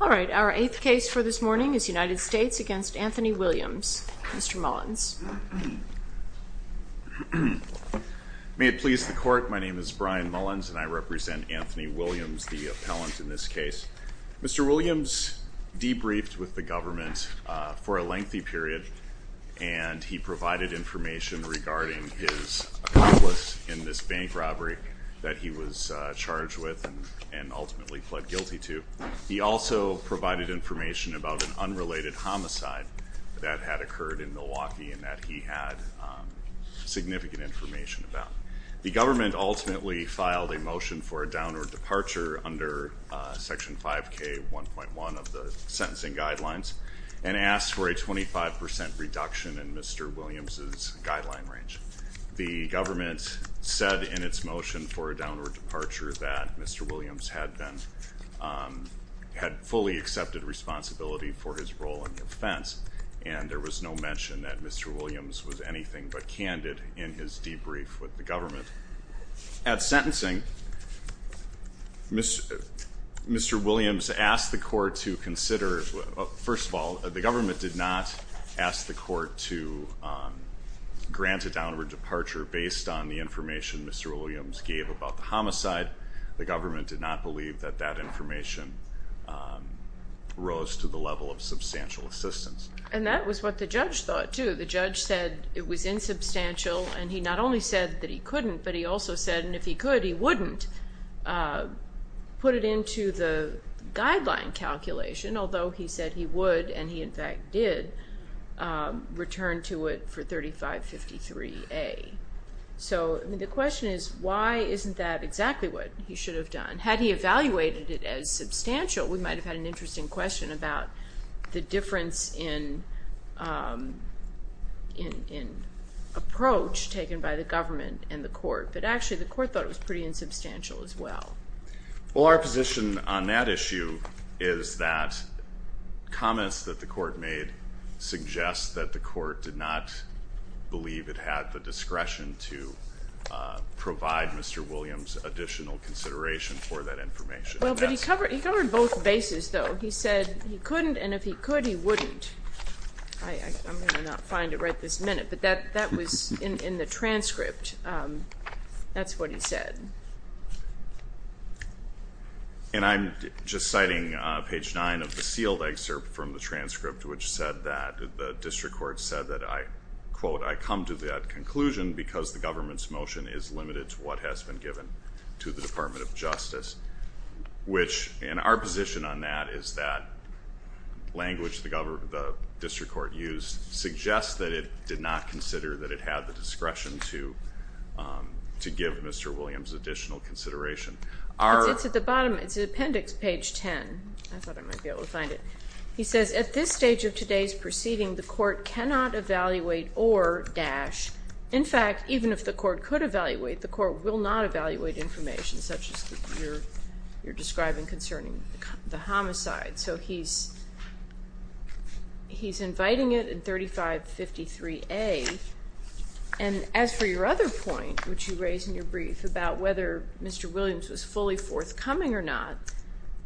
All right, our eighth case for this morning is United States v. Anthony Williams. Mr. Mullins. May it please the court, my name is Brian Mullins and I represent Anthony Williams, the appellant in this case. Mr. Williams debriefed with the government for a lengthy period and he provided information regarding his accomplice in this bank robbery that he was charged with and ultimately pled guilty to. He also provided information about an unrelated homicide that had occurred in Milwaukee and that he had significant information about. The government ultimately filed a motion for a downward departure under section 5k 1.1 of the sentencing guidelines and asked for a 25% reduction in Mr. Williams's guideline range. The government said in its motion for a downward departure that Mr. Williams had been, had fully accepted responsibility for his role in the offense and there was no mention that Mr. Williams was anything but candid in his sentencing. Mr. Williams asked the court to consider, first of all, the government did not ask the court to grant a downward departure based on the information Mr. Williams gave about the homicide. The government did not believe that that information rose to the level of substantial assistance. And that was what the judge thought too. The judge said it was insubstantial and he not only said that he couldn't but he also said if he could, he wouldn't put it into the guideline calculation, although he said he would and he in fact did return to it for 3553A. So the question is why isn't that exactly what he should have done? Had he evaluated it as substantial, we might have had an interesting question about the difference in approach taken by the government and the court, but actually the court thought it was pretty insubstantial as well. Well, our position on that issue is that comments that the court made suggest that the court did not believe it had the discretion to provide Mr. Williams additional consideration for that information. Well, but he covered both bases though. He said he couldn't and if he could, he wouldn't. I'm going to not find it right this minute, but that was in the transcript. That's what he said. And I'm just citing page nine of the sealed excerpt from the transcript, which said that the district court said that I quote, I come to that conclusion because the government's motion is limited to what has been given to the Department of Justice. The language the district court used suggests that it did not consider that it had the discretion to give Mr. Williams additional consideration. It's at the bottom, it's in appendix page 10. I thought I might be able to find it. He says at this stage of today's proceeding, the court cannot evaluate or dash, in fact, even if the court could evaluate, the court will not He's inviting it in 3553A. And as for your other point, which you raised in your brief about whether Mr. Williams was fully forthcoming or not,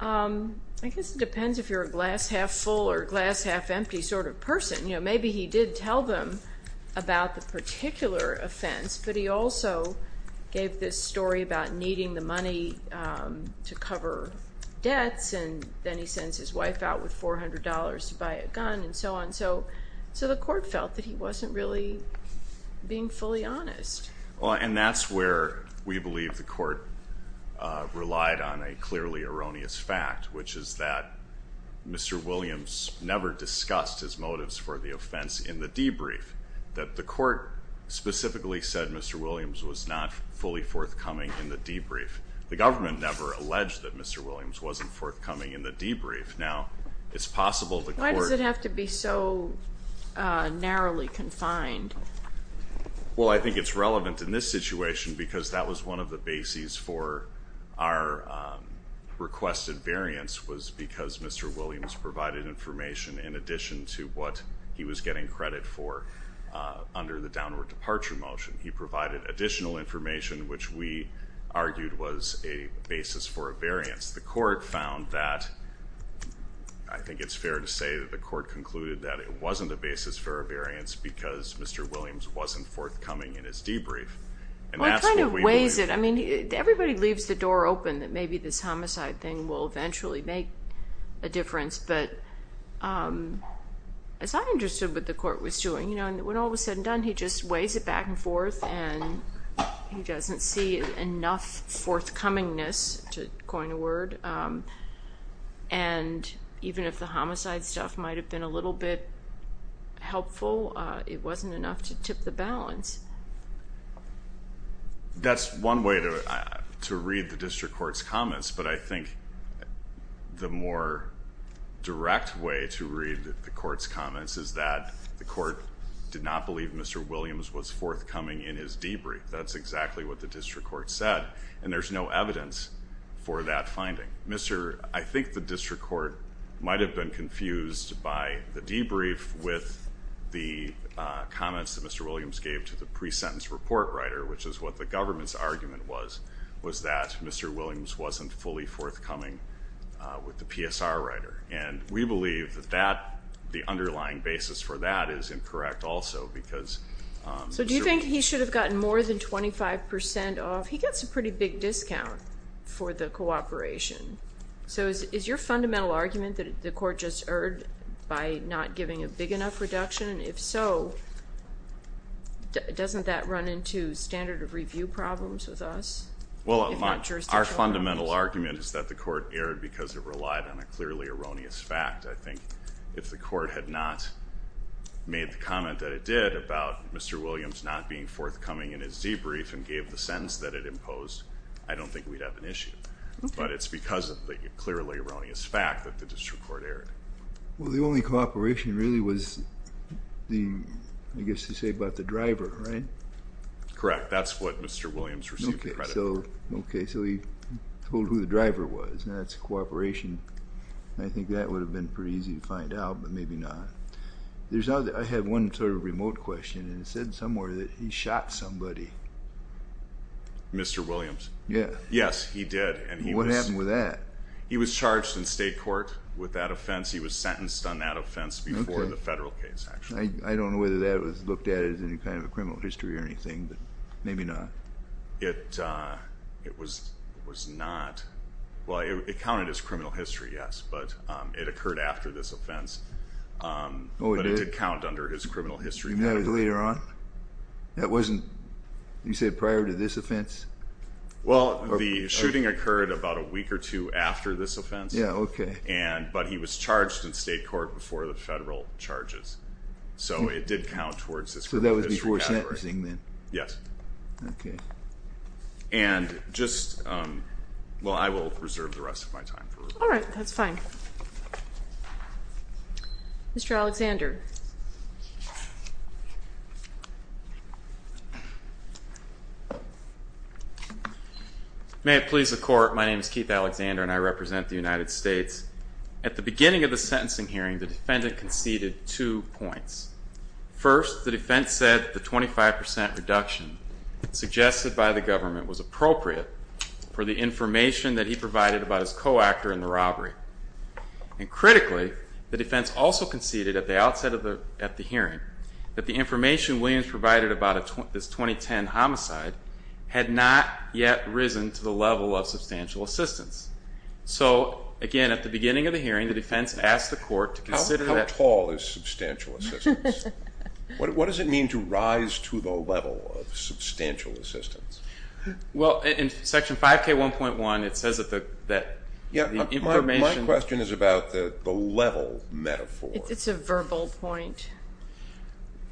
I guess it depends if you're a glass half full or glass half empty sort of person. You know, maybe he did tell them about the particular offense, but he also gave this story about needing the money to cover debts and then he sends his wife out with $400 to buy a gun and so on. So, so the court felt that he wasn't really being fully honest. Well, and that's where we believe the court relied on a clearly erroneous fact, which is that Mr. Williams never discussed his motives for the offense in the debrief, that the court specifically said Mr. Williams was not fully forthcoming in the debrief. The It's possible the court... Why does it have to be so narrowly confined? Well, I think it's relevant in this situation because that was one of the bases for our requested variance was because Mr. Williams provided information in addition to what he was getting credit for under the downward departure motion. He provided additional information, which we argued was a basis for a variance. The court found that, I think it's fair to say that the court concluded that it wasn't a basis for a variance because Mr. Williams wasn't forthcoming in his debrief and that's what we believe. Well, he kind of weighs it. I mean, everybody leaves the door open that maybe this homicide thing will eventually make a difference. But as I'm He doesn't see enough forthcomingness, to coin a word, and even if the homicide stuff might have been a little bit helpful, it wasn't enough to tip the balance. That's one way to read the district court's comments, but I think the more direct way to read the court's comments is that the court did not believe Mr. Williams was forthcoming in his debrief. That's exactly what the district court said, and there's no evidence for that finding. Mr., I think the district court might have been confused by the debrief with the comments that Mr. Williams gave to the pre-sentence report writer, which is what the government's argument was, was that Mr. Williams wasn't fully forthcoming with the PSR writer, and we believe that the underlying basis for that is incorrect also because So do you think he should have gotten more than 25% off? He gets a pretty big discount for the cooperation. So is your fundamental argument that the court just erred by not giving a big enough reduction? And if so, doesn't that run into standard of review problems with us? Well, our fundamental argument is that the court erred because it relied on a clearly erroneous fact. I think if the court had not made the comment that it did about Mr. Williams not being forthcoming in his debrief and gave the sentence that it imposed, I don't think we'd have an issue. But it's because of the clearly erroneous fact that the district court erred. Well, the only cooperation really was, I guess you say, about the driver, right? Correct. That's what Mr. Williams received the credit for. Okay, so he told who the driver was, and that's cooperation. I think that would have been pretty easy to find out, but maybe not. I had one sort of remote question, and it said somewhere that he shot somebody. Mr. Williams? Yeah. Yes, he did. What happened with that? He was charged in state court with that offense. He was sentenced on that offense before the federal case, actually. I don't know whether that was looked at as any kind of a criminal history or anything, but maybe not. It was not. Well, it counted as criminal history, yes, but it occurred after this offense. Oh, it did? But it did count under his criminal history. You mean that was later on? That wasn't, you said, prior to this offense? Well, the shooting occurred about a week or two after this offense. Yeah, okay. But he was charged in state court before the federal charges, so it did count towards this criminal history category. So that was before sentencing, then? Yes. Okay. And just, well, I will reserve the rest of my time. All right, that's fine. Mr. Alexander? May it please the Court, my name is Keith Alexander, and I represent the United States. At the beginning of the sentencing hearing, the defendant conceded two points. First, the defense said that the 25% reduction suggested by the government was appropriate for the information that he provided about his co-actor in the robbery. And critically, the defense also conceded at the outset that the defendant did not concede the 25% reduction. The defense also said at the hearing that the information Williams provided about this 2010 homicide had not yet risen to the level of substantial assistance. So, again, at the beginning of the hearing, the defense asked the Court to consider that... How tall is substantial assistance? What does it mean to rise to the level of substantial assistance? Well, in Section 5K1.1, it says that the information... Yeah, my question is about the level metaphor. It's a verbal point.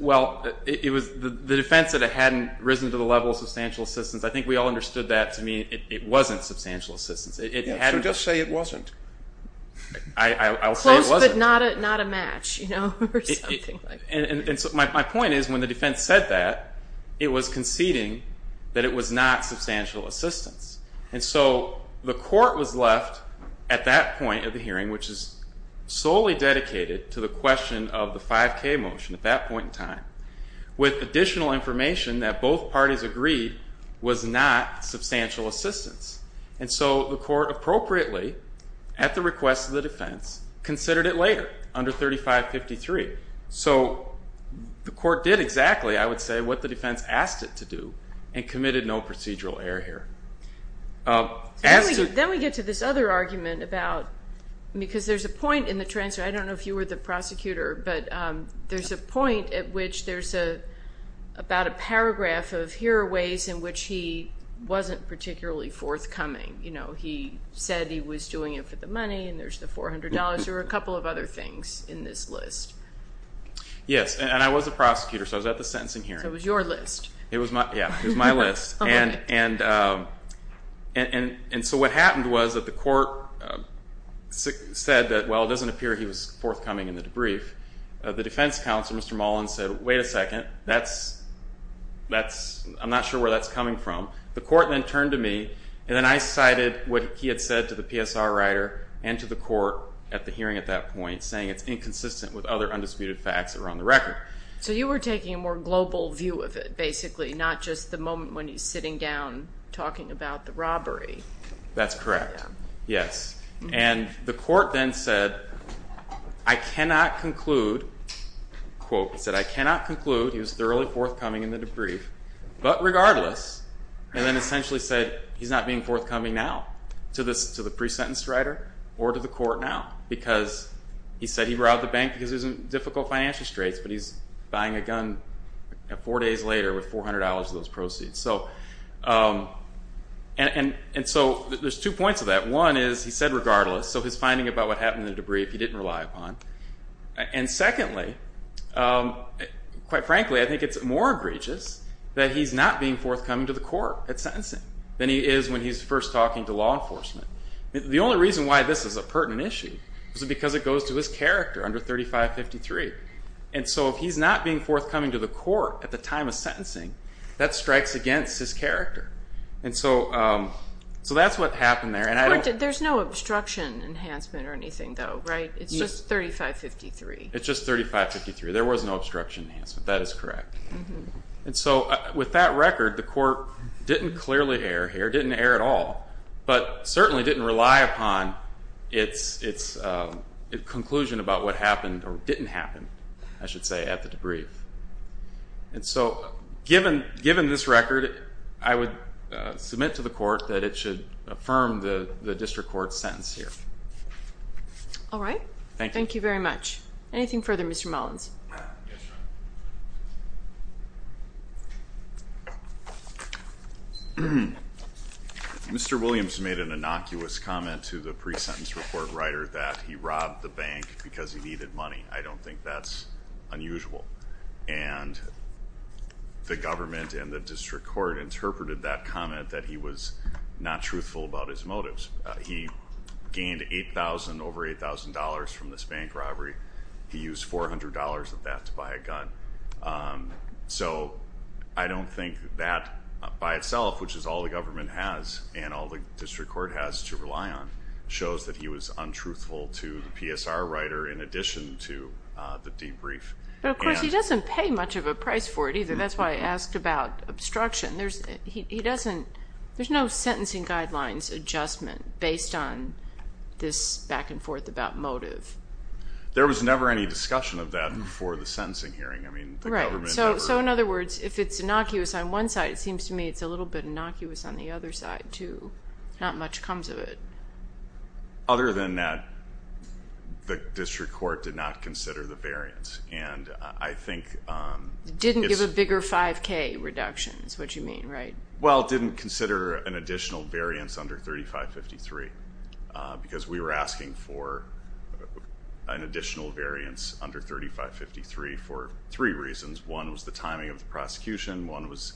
Well, it was the defense that it hadn't risen to the level of substantial assistance. I think we all understood that to mean it wasn't substantial assistance. Yeah, so just say it wasn't. I'll say it wasn't. Close, but not a match, you know, or something like that. And so my point is, when the defense said that, it was conceding that it was not substantial assistance. And so the Court was left at that point of the hearing, which is solely dedicated to the question of the 5K motion at that point in time, with additional information that both parties agreed was not substantial assistance. And so the Court appropriately, at the request of the defense, considered it later, under 3553. So the Court did exactly, I would say, what the defense asked it to do, and committed no procedural error here. Then we get to this other argument about... because there's a point in the transfer. I don't know if you were the prosecutor, but there's a point at which there's about a paragraph of, here are ways in which he wasn't particularly forthcoming. You know, he said he was doing it for the money, and there's the $400, or a couple of other things in this list. Yes, and I was a prosecutor, so I was at the sentencing hearing. So it was your list. Yeah, it was my list. And so what happened was that the Court said that, well, it doesn't appear he was forthcoming in the debrief. The defense counsel, Mr. Mullen, said, wait a second, that's... I'm not sure where that's coming from. The Court then turned to me, and then I cited what he had said to the PSR writer and to the Court at the hearing at that point, saying it's inconsistent with other undisputed facts that are on the record. So you were taking a more global view of it, basically, not just the moment when he's sitting down talking about the robbery. That's correct, yes. And the Court then said, I cannot conclude, quote, he said, I cannot conclude he was thoroughly forthcoming in the debrief, but regardless, and then essentially said he's not being forthcoming now to the pre-sentence writer or to the Court now, because he said he robbed the bank because he was in difficult financial straits, but he's buying a gun four days later with $400 of those proceeds. And so there's two points of that. One is he said regardless, so his finding about what happened in the debrief, he didn't rely upon. And secondly, quite frankly, I think it's more egregious that he's not being forthcoming to the Court at sentencing than he is when he's first talking to law enforcement. The only reason why this is a pertinent issue is because it goes to his character under 3553. And so if he's not being forthcoming to the Court at the time of sentencing, that strikes against his character. And so that's what happened there. There's no obstruction enhancement or anything though, right? It's just 3553. It's just 3553. There was no obstruction enhancement. That is correct. And so with that record, the Court didn't clearly err here, didn't err at all. But certainly didn't rely upon its conclusion about what happened or didn't happen, I should say, at the debrief. And so given this record, I would submit to the Court that it should affirm the District Court's sentence here. All right. Thank you very much. Anything further, Mr. Mullins? Yes, Your Honor. Mr. Williams made an innocuous comment to the pre-sentence report writer that he robbed the bank because he needed money. I don't think that's unusual. And the government and the District Court interpreted that comment that he was not truthful about his motives. He gained $8,000, over $8,000 from this bank robbery. He used $400 of that to buy a gun. So I don't think that by itself, which is all the government has and all the District Court has to rely on, shows that he was untruthful to the PSR writer in addition to the debrief. But of course, he doesn't pay much of a price for it either. That's why I asked about obstruction. There's no sentencing guidelines adjustment based on this back and forth about motive. There was never any discussion of that before the sentencing hearing. Right. So in other words, if it's innocuous on one side, it seems to me it's a little bit innocuous on the other side too. Not much comes of it. Other than that, the District Court did not consider the variance. And I think... Didn't give a bigger 5K reduction is what you mean, right? Well, didn't consider an additional variance under 3553. Because we were asking for an additional variance under 3553 for three reasons. One was the timing of the prosecution. One was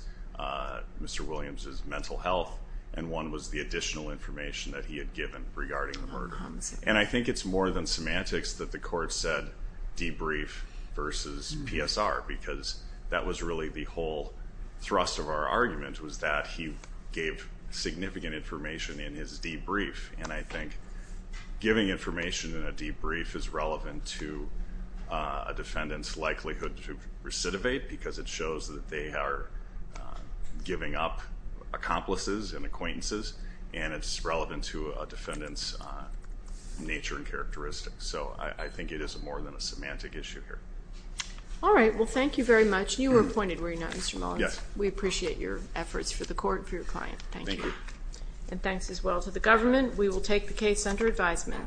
Mr. Williams' mental health. And one was the additional information that he had given regarding the murder. And I think it's more than semantics that the court said debrief versus PSR. Because that was really the whole thrust of our argument was that he gave significant information in his debrief. And I think giving information in a debrief is relevant to a defendant's likelihood to recidivate. Because it shows that they are giving up accomplices and acquaintances. And it's relevant to a defendant's nature and characteristics. So I think it is more than a semantic issue here. Alright. Well, thank you very much. You were appointed, were you not, Mr. Mullins? Yes. We appreciate your efforts for the court and for your client. Thank you. And thanks as well to the government. We will take the case under advisement.